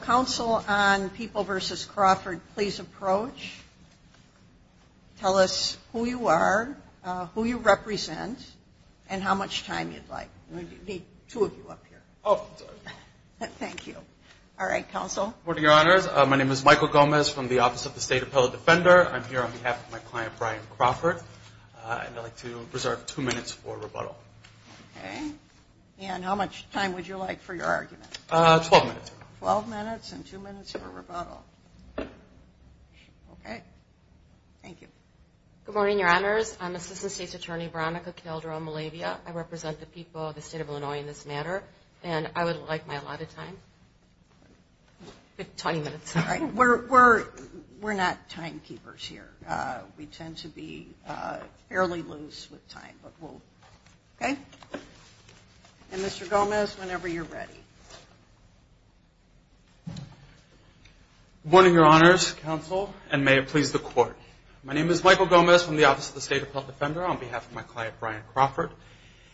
Counsel on People v. Crawford, please approach. Tell us who you are, who you represent, and how much time you'd like. We need two of you up here. Thank you. All right, Counsel. Good morning, Your Honors. My name is Michael Gomez from the Office of the State Appellate Defender. I'm here on behalf of my client, Brian Crawford, and I'd like to reserve two minutes for rebuttal. Okay. And how much time would you like for your argument? Twelve minutes. Twelve minutes and two minutes for rebuttal. Okay. Thank you. Good morning, Your Honors. I'm Assistant State's Attorney, Veronica Calderon-Malavia. I represent the people of the State of Illinois in this matter, and I would like my allotted time. Twenty minutes. All right. We're not time keepers here. We tend to be fairly loose with time, but we'll – okay? And Mr. Gomez, whenever you're ready. Good morning, Your Honors, Counsel, and may it please the Court. My name is Michael Gomez from the Office of the State Appellate Defender on behalf of my client, Brian Crawford.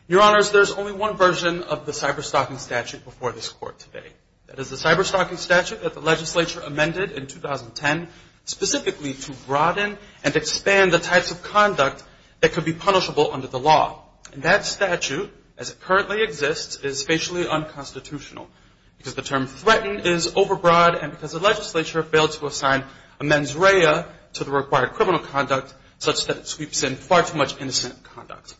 Your Honors, there's only one version of the cyberstalking statute before this Court today. That is the cyberstalking statute that the legislature amended in 2010 specifically to broaden and expand the types of conduct that could be punishable under the law. And that statute, as it currently exists, is facially unconstitutional because the term threatened is overbroad and because the legislature failed to assign amends rea to the required criminal conduct such that it sweeps in far too much innocent conduct.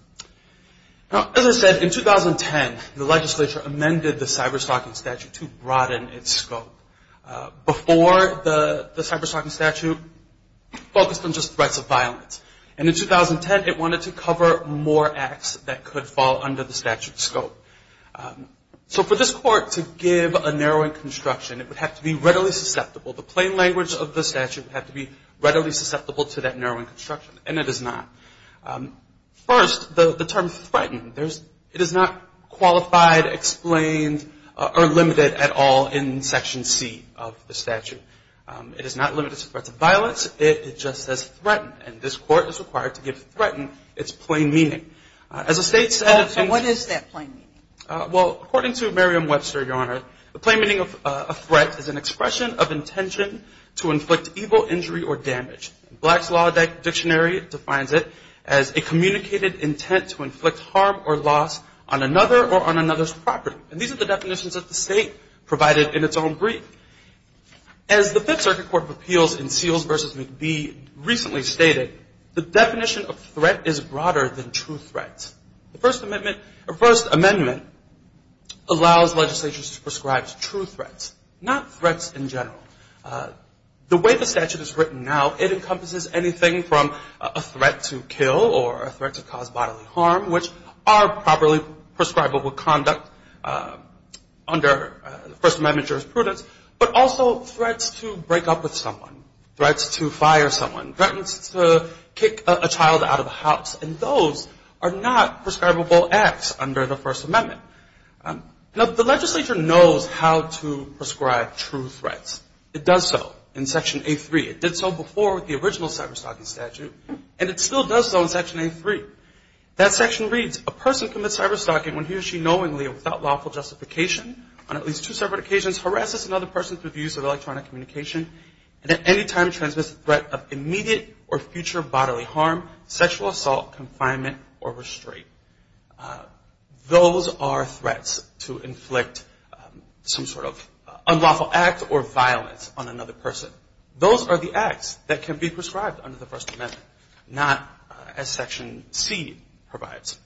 Now, as I said, in 2010, the legislature amended the cyberstalking statute to broaden its scope. Before, the cyberstalking statute focused on just threats of violence. And in 2010, it wanted to cover more acts that could fall under the statute's scope. So for this Court to give a narrowing construction, it would have to be readily susceptible. The plain language of the statute would have to be readily susceptible to that narrowing construction. And it is not. First, the term threatened, it is not qualified, explained, or limited at all in Section C of the statute. It is not limited to threats of violence. It just says threatened. And this Court is required to give threatened its plain meaning. As the State said... And what is that plain meaning? Well, according to Merriam-Webster, Your Honor, the plain meaning of threat is an expression of intention to inflict evil, injury, or damage. Black's Law Dictionary defines it as a communicated intent to inflict harm or loss on another or on another's property. And these are the definitions that the State provided in its own brief. As the Fifth Circuit Court of Appeals in Seals v. McBee recently stated, the definition of threat is broader than true threats. The First Amendment allows legislatures to prescribe true threats, not threats in general. The way the statute is written now, it encompasses anything from a threat to kill or a threat to cause bodily harm, which are properly prescribable conduct under First Amendment jurisprudence, but also threats to break up with someone, threats to fire someone, threats to kick a child out of a house. And those are not prescribable acts under the First Amendment. The legislature knows how to prescribe true threats. It does so in Section A3. It did so before with the original cyber-stalking statute, and it still does so in Section A3. That section reads, a person commits cyber-stalking when he or she knowingly or without lawful justification on at least two separate occasions harasses another person through the use of electronic communication, and at any time transmits a threat of immediate or future bodily harm, sexual assault, confinement, or restraint. Those are threats to inflict some sort of unlawful act or violence on another person. Those are the acts that can be prescribed under the First Amendment, not as Section C provides.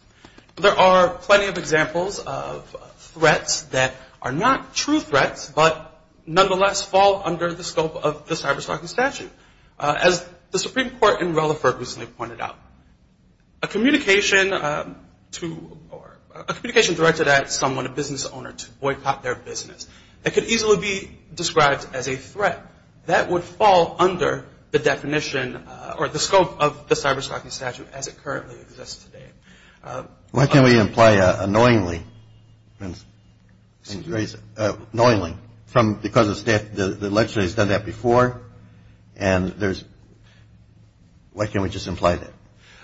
There are plenty of examples of threats that are not true threats, but nonetheless fall under the scope of the cyber-stalking statute. As the Supreme Court in Rutherford recently pointed out, a communication directed at someone, a business owner, to boycott their business could easily be described as a threat. That would fall under the definition or the scope of the cyber-stalking statute as it currently exists today. Why can't we imply knowingly, knowingly, because the legislature has done that before, and there's, why can't we just imply that?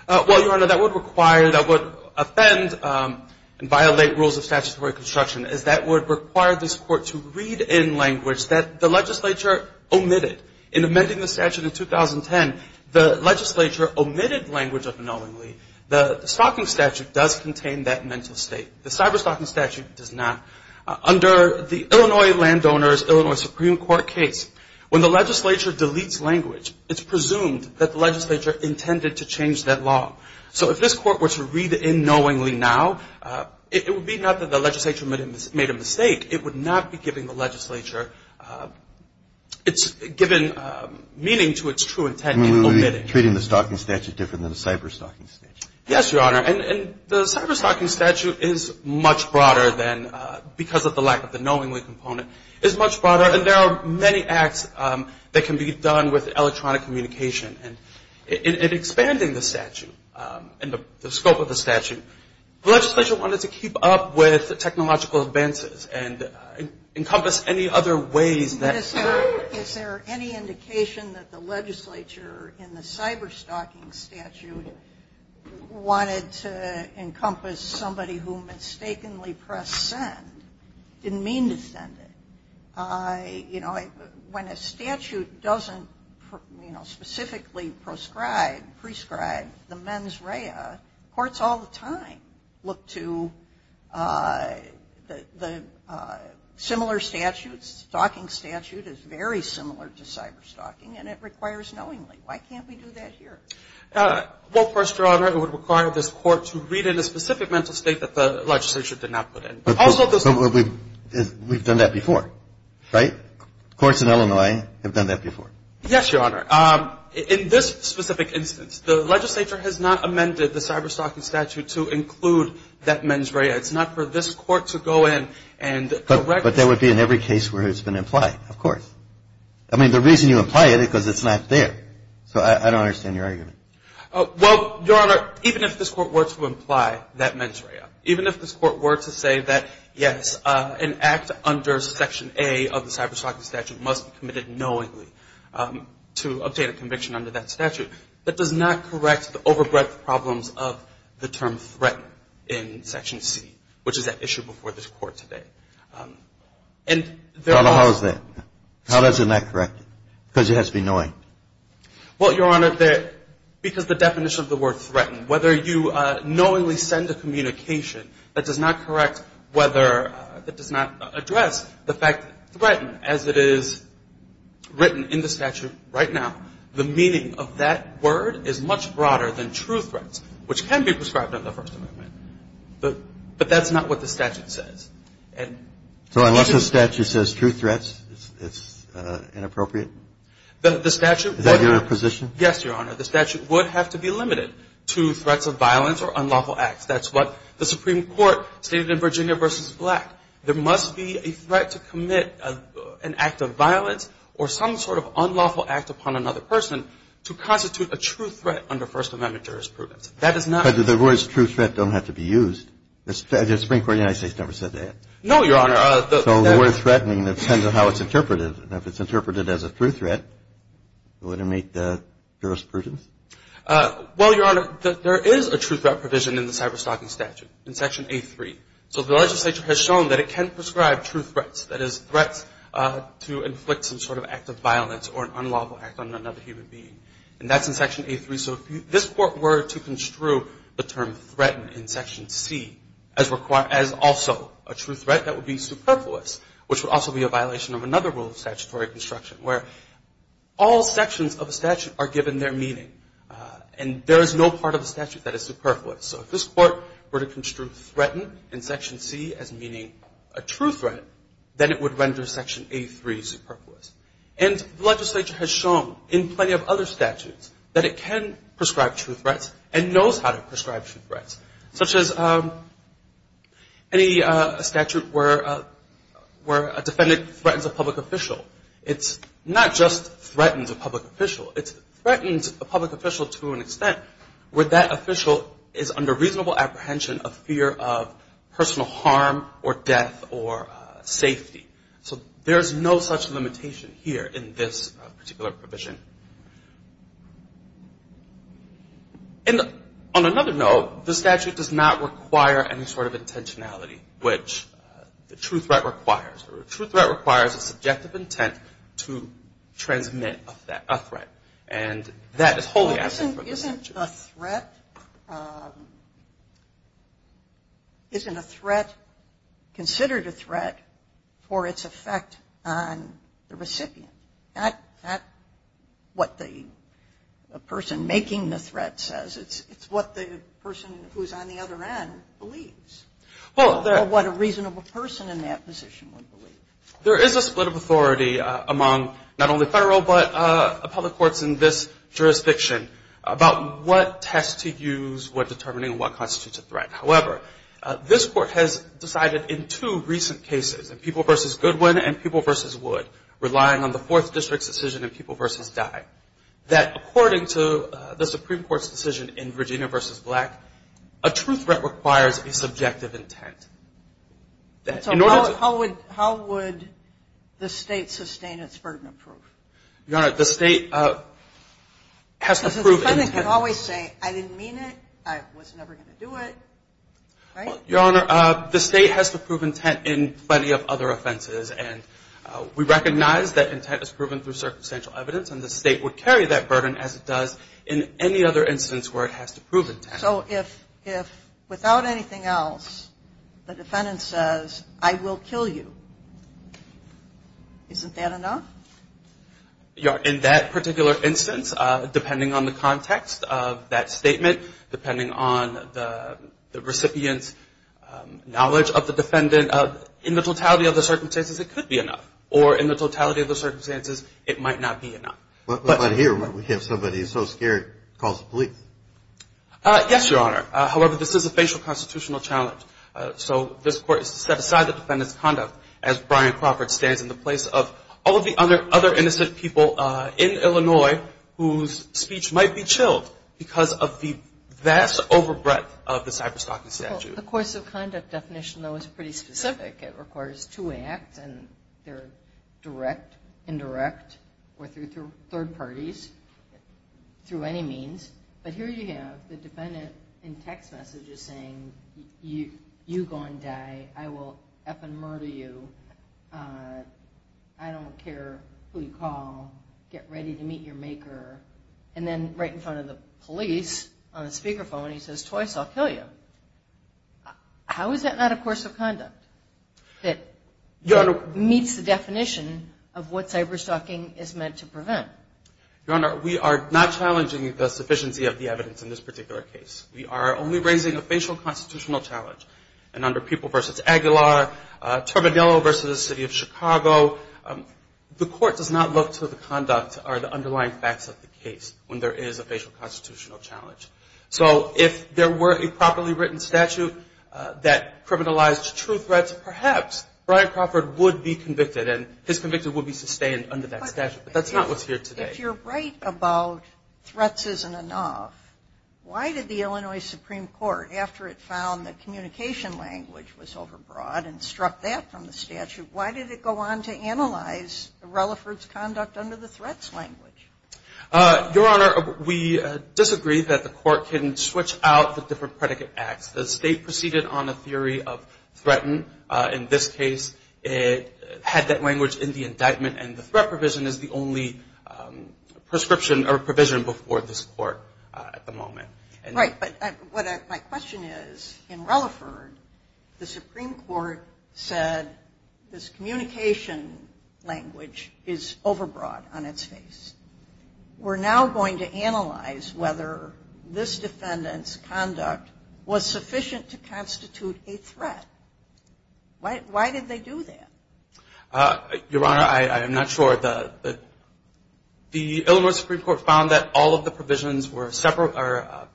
Well, Your Honor, that would require, that would offend and violate rules of statutory construction as that would require this Court to read in language that the legislature omitted. In amending the statute in 2010, the legislature omitted language of knowingly. The stalking statute does contain that mental state. The cyber-stalking statute does not. Under the Illinois landowners, Illinois Supreme Court case, when the legislature deletes language, it's presumed that the legislature intended to change that law. So if this Court were to read in knowingly now, it would be not that the legislature made a mistake. It would not be giving the legislature, it's given meaning to its true intent in omitting. You mean we would be treating the stalking statute different than the cyber-stalking statute. Yes, Your Honor. And the cyber-stalking statute is much broader than, because of the lack of the knowingly component, is much broader. And there are many acts that can be done with the help of the statute. The legislature wanted to keep up with technological advances and encompass any other ways that... Is there any indication that the legislature in the cyber-stalking statute wanted to encompass somebody who mistakenly pressed send, didn't mean to send it? You know, when a statute doesn't, you know, specifically proscribe, prescribe the mens rea, courts all the time look to the similar statutes. The stalking statute is very similar to cyber-stalking and it requires knowingly. Why can't we do that here? Well, of course, Your Honor, it would require this Court to read in a specific mental state that the legislature did not put in. But we've done that before, right? Courts in Illinois have done that before. Yes, Your Honor. In this specific instance, the legislature has not amended the cyber-stalking statute to include that mens rea. It's not for this Court to go in and correct... But there would be in every case where it's been implied, of course. I mean, the reason you imply it is because it's not there. So I don't understand your argument. Well, Your Honor, even if this Court were to imply that mens rea, even if this Court were to say that, yes, an act under Section A of the cyber-stalking statute must be committed knowingly to obtain a conviction under that statute, that does not correct the over-breadth problems of the term threatened in Section C, which is at issue before this Court today. And there are... But how is that? How doesn't that correct it? Because it has to be knowing. Well, Your Honor, because the definition of the word threatened, whether you knowingly send a communication that does not correct whether, that does not address the fact threatened as it is written in the statute right now, the meaning of that word is much broader than true threats, which can be prescribed under the First Amendment. But that's not what the statute says. So unless the statute says true threats, it's inappropriate? The statute... Is that your position? Yes, Your Honor. The statute would have to be limited to threats of violence or unlawful acts. That's what the Supreme Court stated in Virginia v. Black. There must be a threat to commit an act of violence or some sort of unlawful act upon another person to constitute a true threat under First Amendment jurisprudence. That is not... But the words true threat don't have to be used. The Supreme Court of the United States never said that. No, Your Honor. So the word threatening, it depends on how it's interpreted. And if it's interpreted as a true threat, it wouldn't meet the jurisprudence? Well, Your Honor, there is a true threat provision in the cyberstalking statute in Section A3. So the legislature has shown that it can prescribe true threats, that is, threats to inflict some sort of act of violence or an unlawful act on another human being. And that's in Section A3. So if this Court were to construe the term threaten in Section C as also a true threat, that would be superfluous, which would also be a violation of another rule of statutory construction, where all sections of a statute are given their meaning. And there is no part of the statute that is superfluous. So if this Court were to construe threaten in Section C as meaning a true threat, then it would render Section A3 superfluous. And the legislature has shown in plenty of other statutes that it can prescribe true threats and knows how to prescribe true threats, such as any statute where a defendant threatens a public official. It's not just threatens a public official. It's threatens a public official to an extent where that official is under reasonable apprehension of fear of personal harm or death or safety. So there's no such limitation here in this particular provision. And on another note, the statute does not require any sort of intentionality, which the true threat requires. A true threat requires a subjective intent to transmit a threat. And that is wholly absent from the statute. Isn't a threat considered a threat for its effect on the recipient? That's what the person making the threat says. It's what the person who's on the other end believes. Or what a reasonable person in that position would believe. There is a split of authority among not only Federal but public courts in this jurisdiction about what test to use, what determining, what constitutes a threat. However, this Court has decided in two recent cases, in People v. Goodwin and People v. Wood, relying on the Fourth District's decision in People v. Dye, that according to the Supreme Court's decision in Virginia v. Black, a true threat requires a subjective intent. And so how would the State sustain its burden of proof? Your Honor, the State has to prove intent. Because the defendant can always say, I didn't mean it, I was never going to do it, right? Your Honor, the State has to prove intent in plenty of other offenses. And we recognize that intent is proven through circumstantial evidence. And the State would carry that burden as it does in any other instance where it has to prove intent. So if without anything else, the defendant says, I will kill you, isn't that enough? Your Honor, in that particular instance, depending on the context of that statement, depending on the recipient's knowledge of the defendant, in the totality of the circumstances, it could be enough. Or in the totality of the circumstances, it might not be enough. But here, we have somebody who's so scared, calls the police. Yes, Your Honor. However, this is a facial constitutional challenge. So this Court has to set aside the defendant's conduct as Brian Crawford stands in the place of all of the other innocent people in Illinois whose speech might be chilled because of the vast overbreadth of the cyberstalking statute. The course of conduct definition, though, is pretty specific. It requires two acts, and they're direct, indirect, or through third parties, through any means. But here you have the defendant in text messages saying, you go and die. I will f-ing murder you. I don't care who you call. Get ready to meet your maker. And then right in front of the police on the speakerphone, he says, twice, I'll kill you. How is that not a course of conduct? That meets the definition of what cyberstalking is meant to prevent. Your Honor, we are not challenging the sufficiency of the evidence in this particular case. We are only raising a facial constitutional challenge. And under People v. Aguilar, Terminello v. the City of Chicago, the Court does not look to the conduct or the underlying facts of the case when there is a facial constitutional challenge. So if there were a properly written statute that criminalized true threats, perhaps Brian Crawford would be convicted, and his conviction would be sustained under that statute. But that's not what's here today. If you're right about threats isn't enough, why did the Illinois Supreme Court, after it found the communication language was overbroad and struck that from the statute, why did it go on to analyze Relaford's conduct under the threats language? Your Honor, we disagree that the Court can switch out the different predicate acts. The State proceeded on a theory of threatened. In this case, it had that language in the indictment, and the threat provision is the only prescription or provision before this Court at the moment. Right, but what my question is, in Relaford, the Supreme Court said this communication language is overbroad on its face. We're now going to analyze whether this defendant's conduct was sufficient to constitute a threat. Why did they do that? Your Honor, I am not sure. The Illinois Supreme Court found that all of the provisions were severable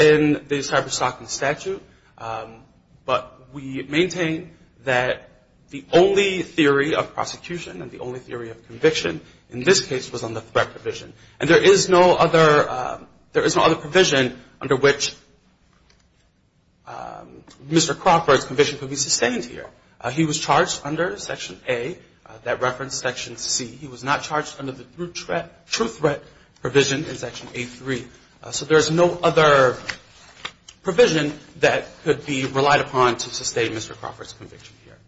in the cyberstalking statute, but we maintain that the only theory of prosecution and the only theory of conviction in this case was on the threat provision. And there is no other provision under which Mr. Crawford's conviction could be sustained here. He was charged under Section A that referenced Section C. He was not charged under the true threat provision in Section A3. So there's no other provision that could be relied upon to sustain Mr. Crawford's conviction here.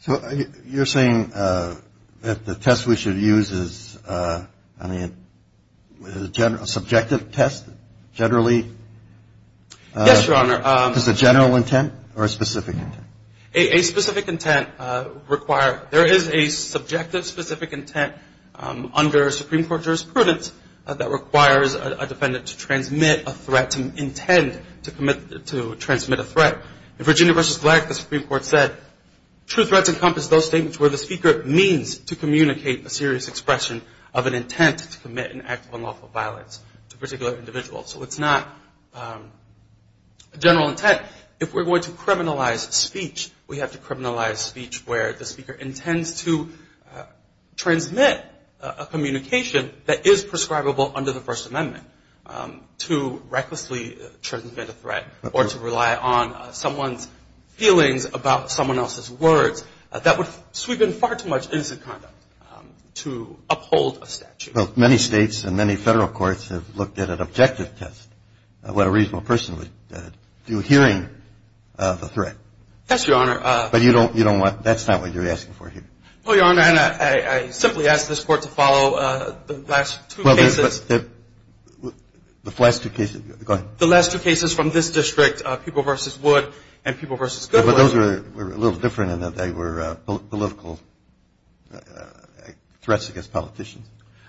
So you're saying that the test we should use is, I mean, a subjective test, generally? Yes, Your Honor. Is it general intent or a specific intent? A specific intent required. There is a subjective specific intent under Supreme Court jurisprudence that requires a defendant to transmit a threat, to intend to transmit a threat. In Virginia v. Glag, the Supreme Court said true threats encompass those statements where the speaker means to communicate a serious expression of an intent to commit an act of unlawful violence to a particular individual. So it's not general intent. If we're going to criminalize speech, we have to criminalize speech where the speaker intends to transmit a communication that is prescribable under the First Amendment to recklessly transmit a threat or to rely on someone's feelings about someone else's words. That would sweep in far too much innocent conduct to uphold a statute. Well, many states and many Federal courts have looked at an objective test, what a reasonable person would do, hearing the threat. Yes, Your Honor. But you don't want, that's not what you're asking for here. Well, Your Honor, and I simply ask this Court to follow the last two cases. Well, the last two cases, go ahead. The last two cases from this district, People v. Wood and People v. Goodwood. But those were a little different in that they were political threats against politicians.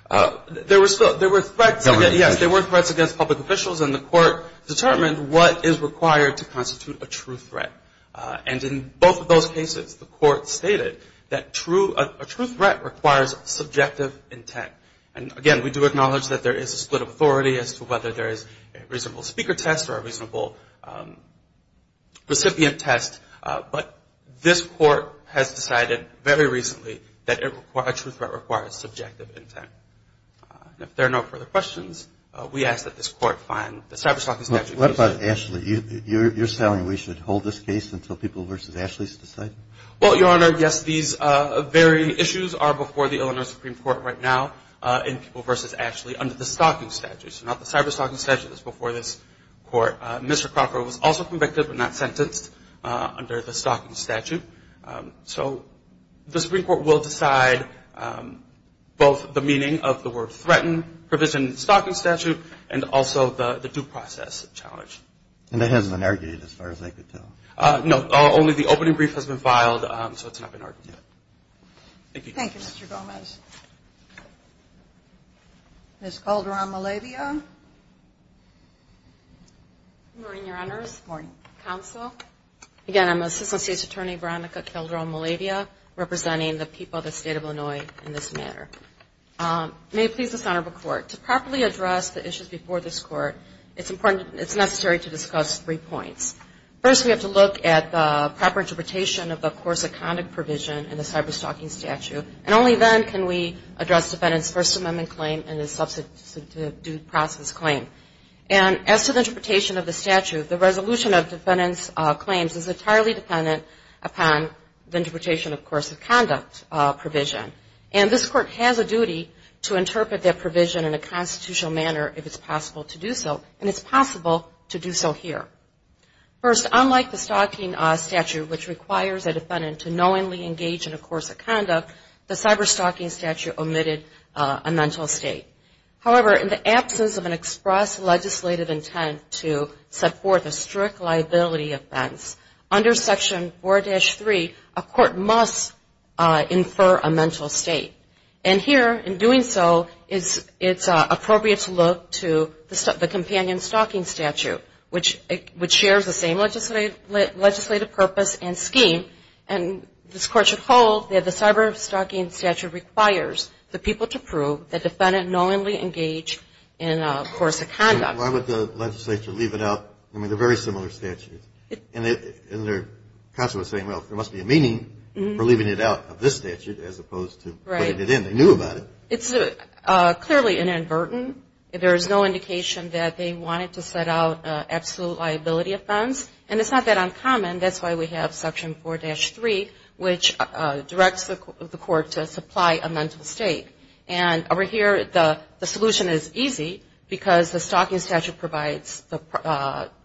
There were threats against, yes, there were threats against public officials, and the Court determined what is required to constitute a true threat. And in both of those cases, the Court stated that a true threat requires subjective intent. And again, we do acknowledge that there is a split of authority as to whether there is a reasonable speaker test or a reasonable recipient test. But this Court has decided very recently that a true threat requires subjective intent. If there are no further questions, we ask that this Court find the cyberstalking statute. What about Ashley? You're saying we should hold this case until People v. Ashley is decided? Well, Your Honor, yes. These varying issues are before the Illinois Supreme Court right now in People v. Ashley under the stalking statute. So not the cyberstalking statute that's before this Court. Mr. Crocker was also convicted but not sentenced under the stalking statute. So the Supreme Court will decide both the meaning of the word threaten, provision of the stalking statute, and also the due process challenge. And that hasn't been argued as far as I could tell? No, only the opening brief has been filed, so it's not been argued yet. Thank you. Thank you, Mr. Gomez. Ms. Calderon-Malavia. Good morning, Your Honors. Good morning. Counsel. Again, I'm Assistant State's Attorney Veronica Calderon-Malavia, representing the People of the State of Illinois in this matter. May it please the Senate of the Court, to properly address the issues before this Court, it's necessary to discuss three points. First, we have to look at the proper interpretation of the course of conduct provision in the cyberstalking statute, and only then can we address defendant's First Amendment claim and his substantive due process claim. And as to the interpretation of the statute, the resolution of defendant's claims is entirely dependent upon the interpretation of course of conduct provision. And this Court has a duty to interpret that provision in a constitutional manner if it's possible to do so, and it's possible to do so here. First, unlike the stalking statute, which requires a defendant to knowingly engage in a course of conduct, the cyberstalking statute omitted a mental state. However, in the absence of an express legislative intent to set forth a strict liability offense, under Section 4-3, a court must infer a mental state. And here, in doing so, it's appropriate to look to the companion stalking statute, which shares the same legislative purpose and scheme. And this Court should hold that the cyberstalking statute requires the people to prove the defendant knowingly engaged in a course of conduct. And why would the legislature leave it out? I mean, they're very similar statutes. And they're constantly saying, well, there must be a meaning for leaving it out of this statute as opposed to putting it in. Right. They knew about it. It's clearly inadvertent. There is no indication that they wanted to set out an absolute liability offense, and it's not that uncommon. That's why we have Section 4-3, which directs the Court to supply a mental state. And over here, the solution is easy because the stalking statute provides the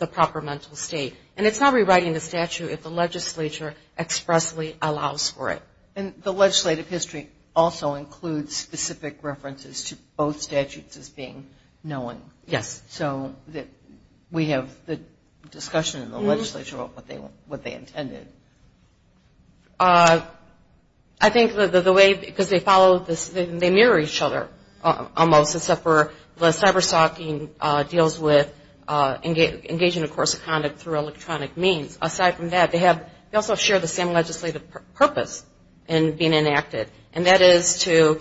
proper mental state. And it's not rewriting the statute if the legislature expressly allows for it. And the legislative history also includes specific references to both statutes as being known. Yes. So we have the discussion in the legislature of what they intended. I think the way because they follow this, they mirror each other almost, except for the cyberstalking deals with engaging in a course of conduct through electronic means. Aside from that, they also share the same legislative purpose in being enacted, and that is to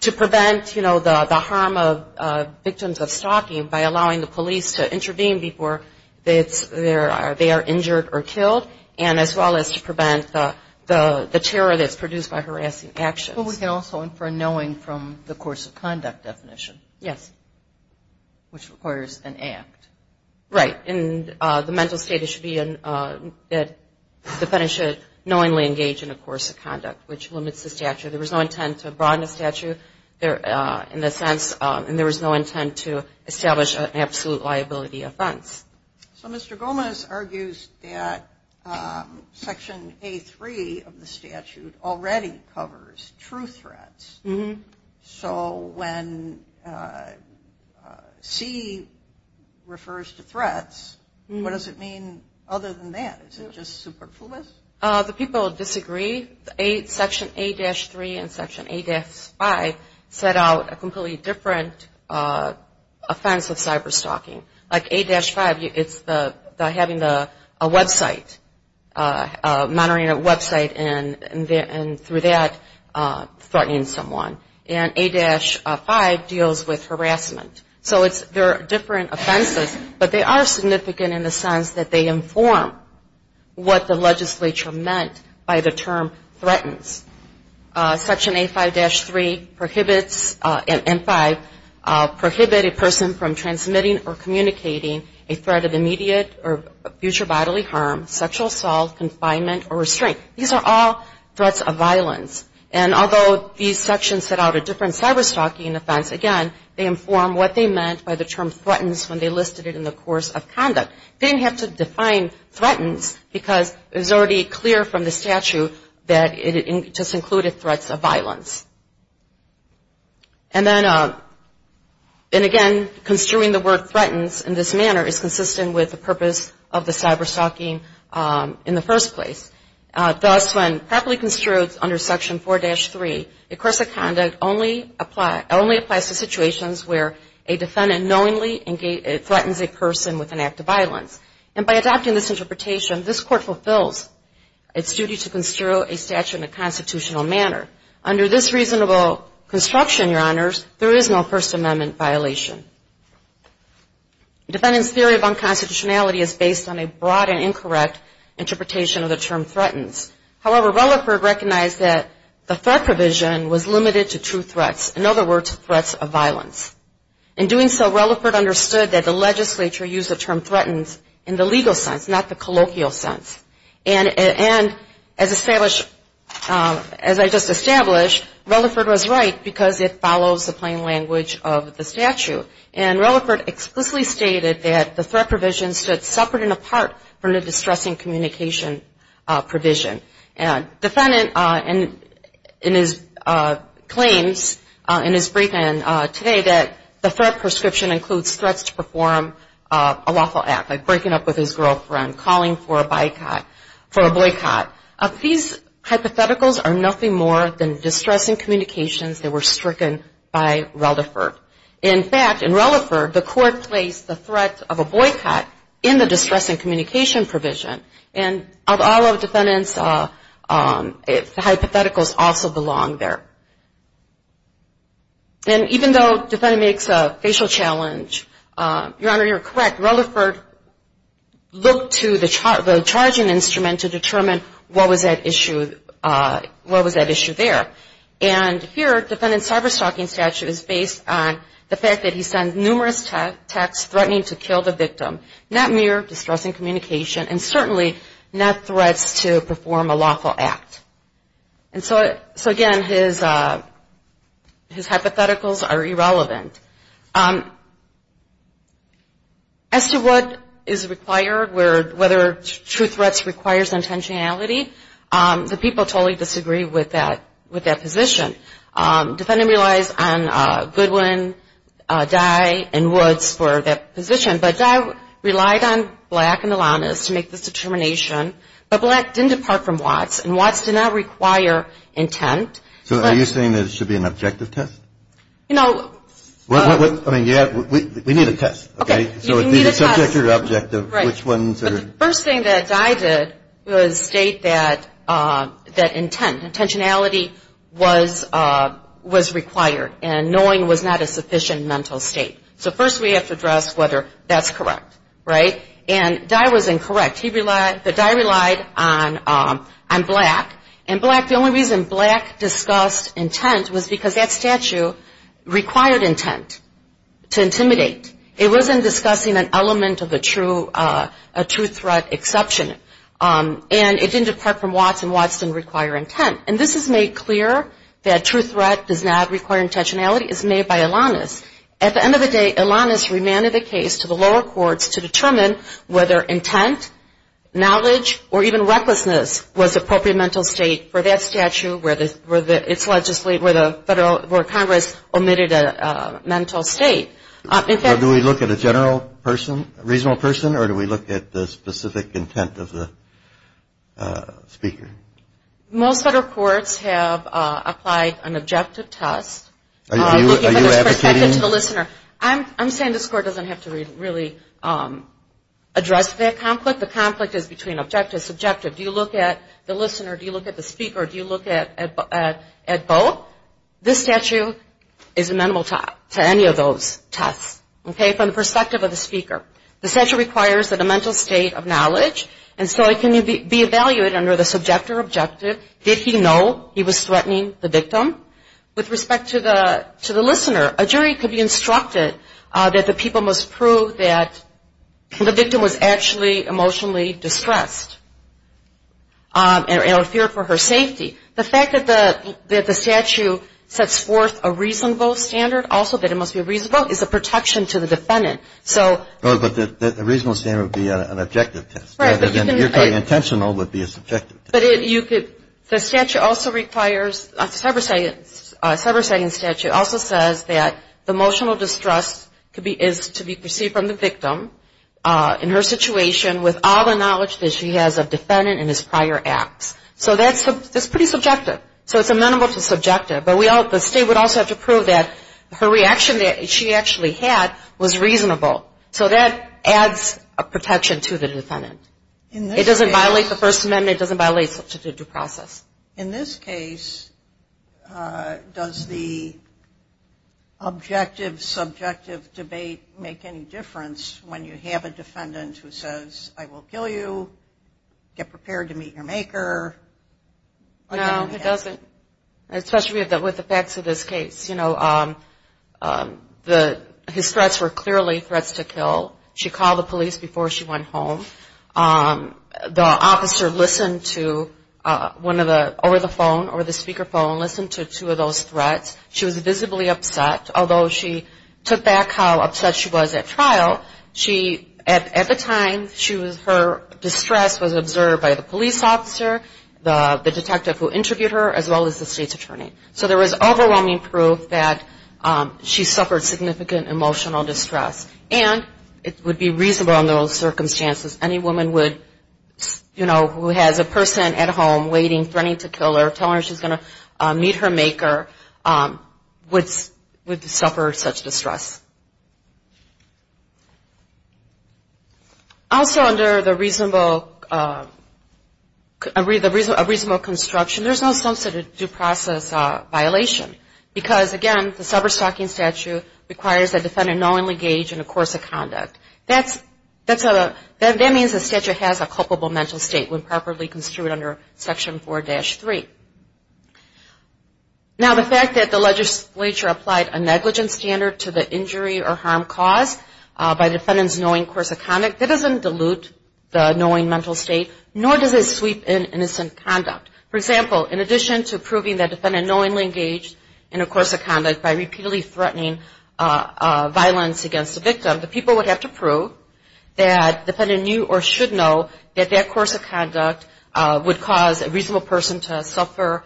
prevent, you know, the harm of victims of stalking by allowing the police to intervene before they are injured or killed, and as well as to prevent the terror that's produced by harassing actions. But we can also infer knowing from the course of conduct definition. Yes. Which requires an act. Right. And the mental state should be that the defendant should knowingly engage in a course of conduct, which limits the statute. There was no intent to broaden the statute in the sense, and there was no intent to establish an absolute liability offense. So Mr. Gomez argues that Section A3 of the statute already covers true threats. So when C refers to threats, what does it mean other than that? Is it just superfluous? The people disagree. Section A-3 and Section A-5 set out a completely different offense of cyberstalking. Like A-5, it's having a website, monitoring a website, and through that, threatening someone. And A-5 deals with harassment. So there are different offenses, but they are significant in the sense that they inform what the legislature meant by the term threatens. Section A-5-3 and 5 prohibit a person from transmitting or communicating a threat of immediate or future bodily harm, sexual assault, confinement, or restraint. These are all threats of violence. And although these sections set out a different cyberstalking offense, again, they inform what they meant by the term threatens when they listed it in the course of conduct. They didn't have to define threatens because it was already clear from the statute that it just included threats of violence. And then again, construing the word threatens in this manner is consistent with the purpose of the cyberstalking in the first place. Thus, when properly construed under Section 4-3, the course of conduct only applies to situations where a defendant knowingly threatens a person with an act of violence. And by adopting this interpretation, this Court fulfills its duty to construe a statute in a constitutional manner. Under this reasonable construction, Your Honors, there is no First Amendment violation. Defendants' theory of unconstitutionality is based on a broad and incorrect interpretation of the term threatens. However, Rutherford recognized that the threat provision was limited to true threats, in other words, threats of violence. In doing so, Rutherford understood that the legislature used the term threatens in the legal sense, not the colloquial sense. And as established, as I just established, Rutherford was right because it follows the plain language of the statute. And Rutherford explicitly stated that the threat provision stood separate and apart from the distressing communication provision. Defendant claims in his briefing today that the threat prescription includes threats to perform a lawful act, like breaking up with his girlfriend, calling for a boycott. These hypotheticals are nothing more than distressing communications that were stricken by Rutherford. In fact, in Rutherford, the Court placed the threat of a boycott in the distressing communication provision. And of all of defendants, the hypotheticals also belong there. And even though defendant makes a facial challenge, Your Honor, you're correct. Rutherford looked to the charging instrument to determine what was at issue there. And here, defendant's cyberstalking statute is based on the fact that he sent numerous texts threatening to kill the victim, not mere distressing communication and certainly not threats to perform a lawful act. And so, again, his hypotheticals are irrelevant. As to what is required, whether true threats requires intentionality, the people totally disagree with that position. Defendant relies on Goodwin, Dye, and Woods for that position. But Dye relied on Black and Alanis to make this determination. But Black didn't depart from Watts. And Watts did not require intent. So are you saying there should be an objective test? You know. I mean, we need a test. Okay. You need a test. So is it subject or objective? Right. But the first thing that Dye did was state that intent. Intentionality was required. And knowing was not a sufficient mental state. So first we have to address whether that's correct. Right? And Dye was incorrect. But Dye relied on Black. And Black, the only reason Black discussed intent was because that statute required intent to intimidate. It wasn't discussing an element of a true threat exception. And it didn't depart from Watts. And Watts didn't require intent. And this has made clear that true threat does not require intentionality. It's made by Alanis. At the end of the day, Alanis remanded the case to the lower courts to determine whether intent, knowledge, or even recklessness was the appropriate mental state for that statute, where Congress omitted a mental state. Do we look at a general person, reasonable person, or do we look at the specific intent of the speaker? Most federal courts have applied an objective test. Are you advocating? I'm saying this court doesn't have to really address that conflict. The conflict is between objective and subjective. Do you look at the listener? Do you look at the speaker? Do you look at both? So this statute is amenable to any of those tests, okay, from the perspective of the speaker. The statute requires a mental state of knowledge, and so it can be evaluated under the subjective objective. Did he know he was threatening the victim? With respect to the listener, a jury could be instructed that the people must prove that the victim was actually emotionally distressed or feared for her safety. The fact that the statute sets forth a reasonable standard, also that it must be reasonable, is a protection to the defendant. But the reasonable standard would be an objective test. Right. And the intentionally would be a subjective test. But the statute also requires, the subversive statute also says that the emotional distress is to be perceived from the victim in her situation with all the knowledge that she has of the defendant and his prior acts. So that's pretty subjective. So it's amenable to subjective. But the state would also have to prove that her reaction that she actually had was reasonable. So that adds a protection to the defendant. It doesn't violate the First Amendment. It doesn't violate the due process. In this case, does the objective subjective debate make any difference when you have a defendant who says, I will kill you, get prepared to meet your maker? No, it doesn't. Especially with the facts of this case. You know, his threats were clearly threats to kill. She called the police before she went home. The officer listened to one of the, over the phone, over the speaker phone, listened to two of those threats. She was visibly upset. Although she took back how upset she was at trial. At the time, her distress was observed by the police officer, the detective who interviewed her, as well as the state's attorney. So there was overwhelming proof that she suffered significant emotional distress. And it would be reasonable in those circumstances, any woman would, you know, who has a person at home waiting, threatening to kill her, telling her she's going to meet her maker, would suffer such distress. Also, under the reasonable, a reasonable construction, there's no substantive due process violation. Because, again, the sober stalking statute requires the defendant knowingly engage in a course of conduct. That's a, that means the statute has a culpable mental state when properly construed under Section 4-3. Now, the fact that the legislature applied a negligence standard to the injury or harm caused by the defendant's knowing course of conduct, that doesn't dilute the knowing mental state, nor does it sweep in innocent conduct. For example, in addition to proving the defendant knowingly engaged in a course of conduct by repeatedly threatening violence against the victim, the people would have to prove that the defendant knew or should know that that course of conduct would cause a reasonable person to suffer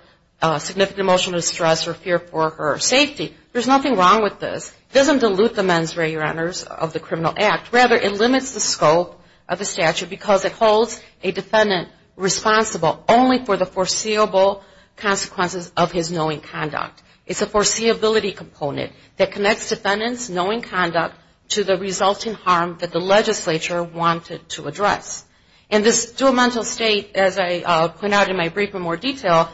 significant emotional distress or fear for her safety. There's nothing wrong with this. It doesn't dilute the men's right of honors of the criminal act. Rather, it limits the scope of the statute because it holds a defendant responsible only for the foreseeable consequences of his knowing conduct. It's a foreseeability component that connects defendant's knowing conduct to the resulting harm that the legislature wanted to address. And this dual mental state, as I point out in my brief in more detail,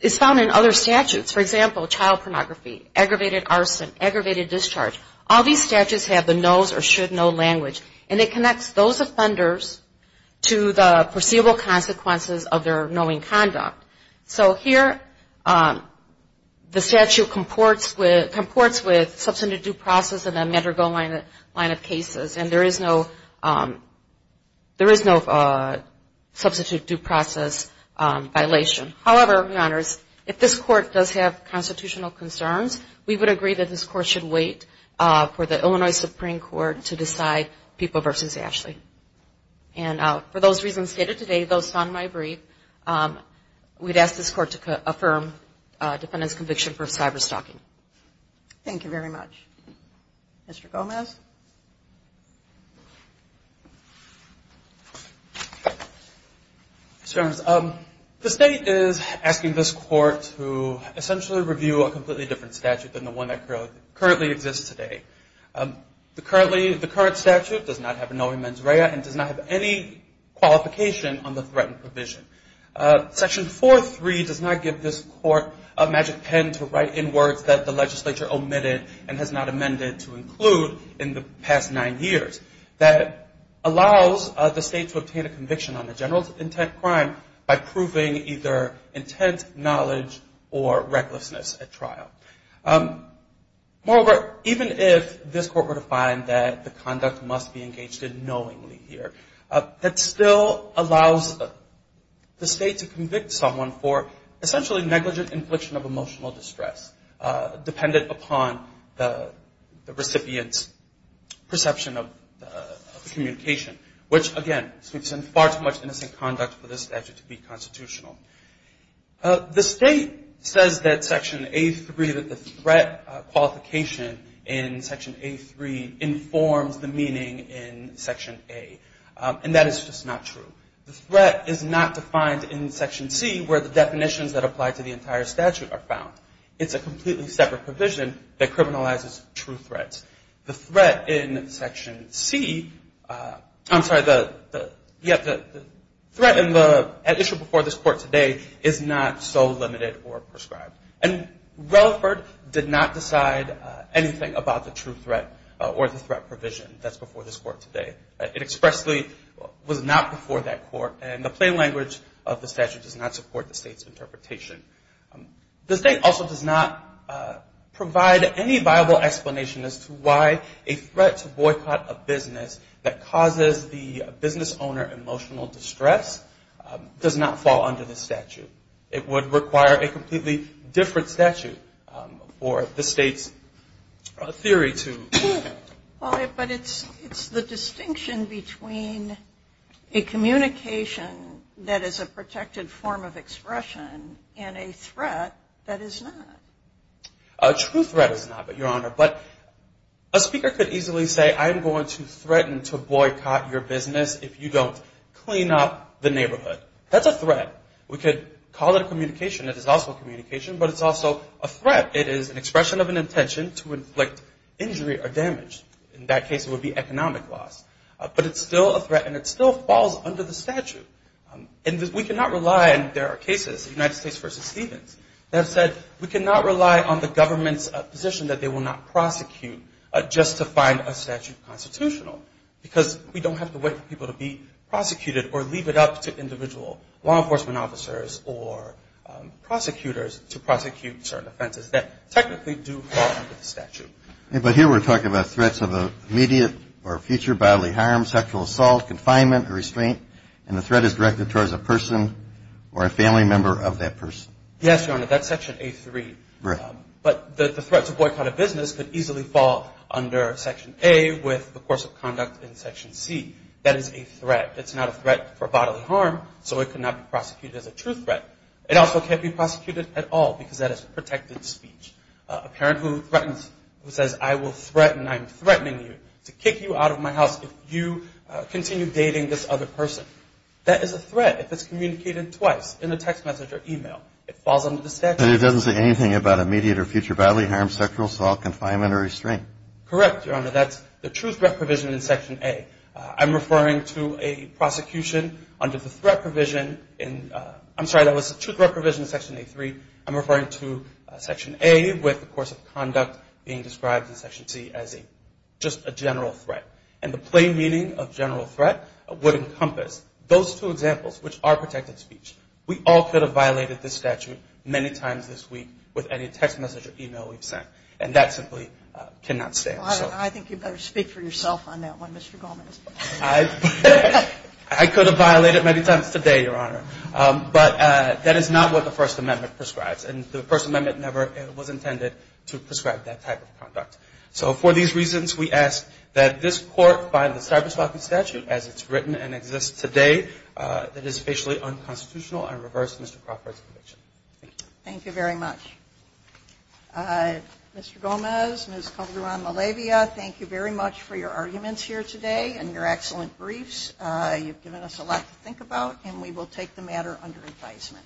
is found in other statutes. For example, child pornography, aggravated arson, aggravated discharge. All these statutes have the knows or should know language. And it connects those offenders to the foreseeable consequences of their knowing conduct. So here, the statute comports with substantive due process in the Madrigal line of cases. And there is no substantive due process violation. However, if this court does have constitutional concerns, we would agree that this court should wait for the Illinois Supreme Court to decide People v. Ashley. And for those reasons stated today, those found in my brief, we'd ask this court to affirm defendant's conviction for cyberstalking. Thank you very much. Mr. Gomez? The state is asking this court to essentially review a completely different statute than the one that currently exists today. The current statute does not have a knowing mens rea and does not have any qualification on the threatened provision. Section 4.3 does not give this court a magic pen to write in words that the legislature omitted and has not amended to include in the past nine years. That allows the state to obtain a conviction on a general intent crime by proving either intent, knowledge, or recklessness at trial. Moreover, even if this court were to find that the conduct must be engaged in knowingly here, that still allows the state to convict someone for essentially negligent infliction of emotional distress dependent upon the recipient's perception of the communication, which, again, speaks in far too much innocent conduct for this statute to be constitutional. The state says that Section A.3, that the threat qualification in Section A.3, informs the meaning in Section A, and that is just not true. The threat is not defined in Section C where the definitions that apply to the entire statute are found. It's a completely separate provision that criminalizes true threats. The threat in Section C, I'm sorry, the threat before this court today is not so limited or prescribed. And Relaford did not decide anything about the true threat or the threat provision that's before this court today. It expressly was not before that court, and the plain language of the statute does not support the state's interpretation. The state also does not provide any viable explanation as to why a threat to boycott a business that causes the business owner emotional distress does not fall under this statute. It would require a completely different statute for the state's theory to... And a threat that is not. A true threat is not, Your Honor, but a speaker could easily say, I'm going to threaten to boycott your business if you don't clean up the neighborhood. That's a threat. We could call it a communication. It is also a communication, but it's also a threat. It is an expression of an intention to inflict injury or damage. In that case, it would be economic loss, but it's still a threat, and it still falls under the statute. And we cannot rely, and there are cases, United States v. Stevens, that have said we cannot rely on the government's position that they will not prosecute just to find a statute constitutional because we don't have the way for people to be prosecuted or leave it up to individual law enforcement officers or prosecutors to prosecute certain offenses that technically do fall under the statute. But here we're talking about threats of immediate or future bodily harm, sexual assault, confinement, or restraint, and the threat is directed towards a person or a family member of that person. Yes, Your Honor, that's Section A3, but the threat to boycott a business could easily fall under Section A with the course of conduct in Section C. That is a threat. It's not a threat for bodily harm, so it could not be prosecuted as a true threat. It also can't be prosecuted at all because that is protected speech. A parent who threatens, who says, I will threaten, I'm threatening you to kick you out of my house if you continue dating this other person, that is a threat if it's communicated twice in a text message or e-mail. It falls under the statute. And it doesn't say anything about immediate or future bodily harm, sexual assault, confinement, or restraint? Correct, Your Honor. That's the true threat provision in Section A. I'm referring to a prosecution under the threat provision in – I'm sorry, that was the true threat provision in Section A3. I'm referring to Section A with the course of conduct being described in Section C as just a general threat. And the plain meaning of general threat would encompass those two examples, which are protected speech. We all could have violated this statute many times this week with any text message or e-mail we've sent. And that simply cannot stand. I think you better speak for yourself on that one, Mr. Goldman. I could have violated it many times today, Your Honor. But that is not what the First Amendment prescribes. And the First Amendment never was intended to prescribe that type of conduct. So for these reasons, we ask that this Court find the cyberstalking statute, as it's written and exists today, that is facially unconstitutional and reverse Mr. Crawford's conviction. Thank you. Thank you very much. Mr. Gomez, Ms. Calderon-Malavia, thank you very much for your arguments here today and your excellent briefs. You've given us a lot to think about, and we will take the matter under advisement.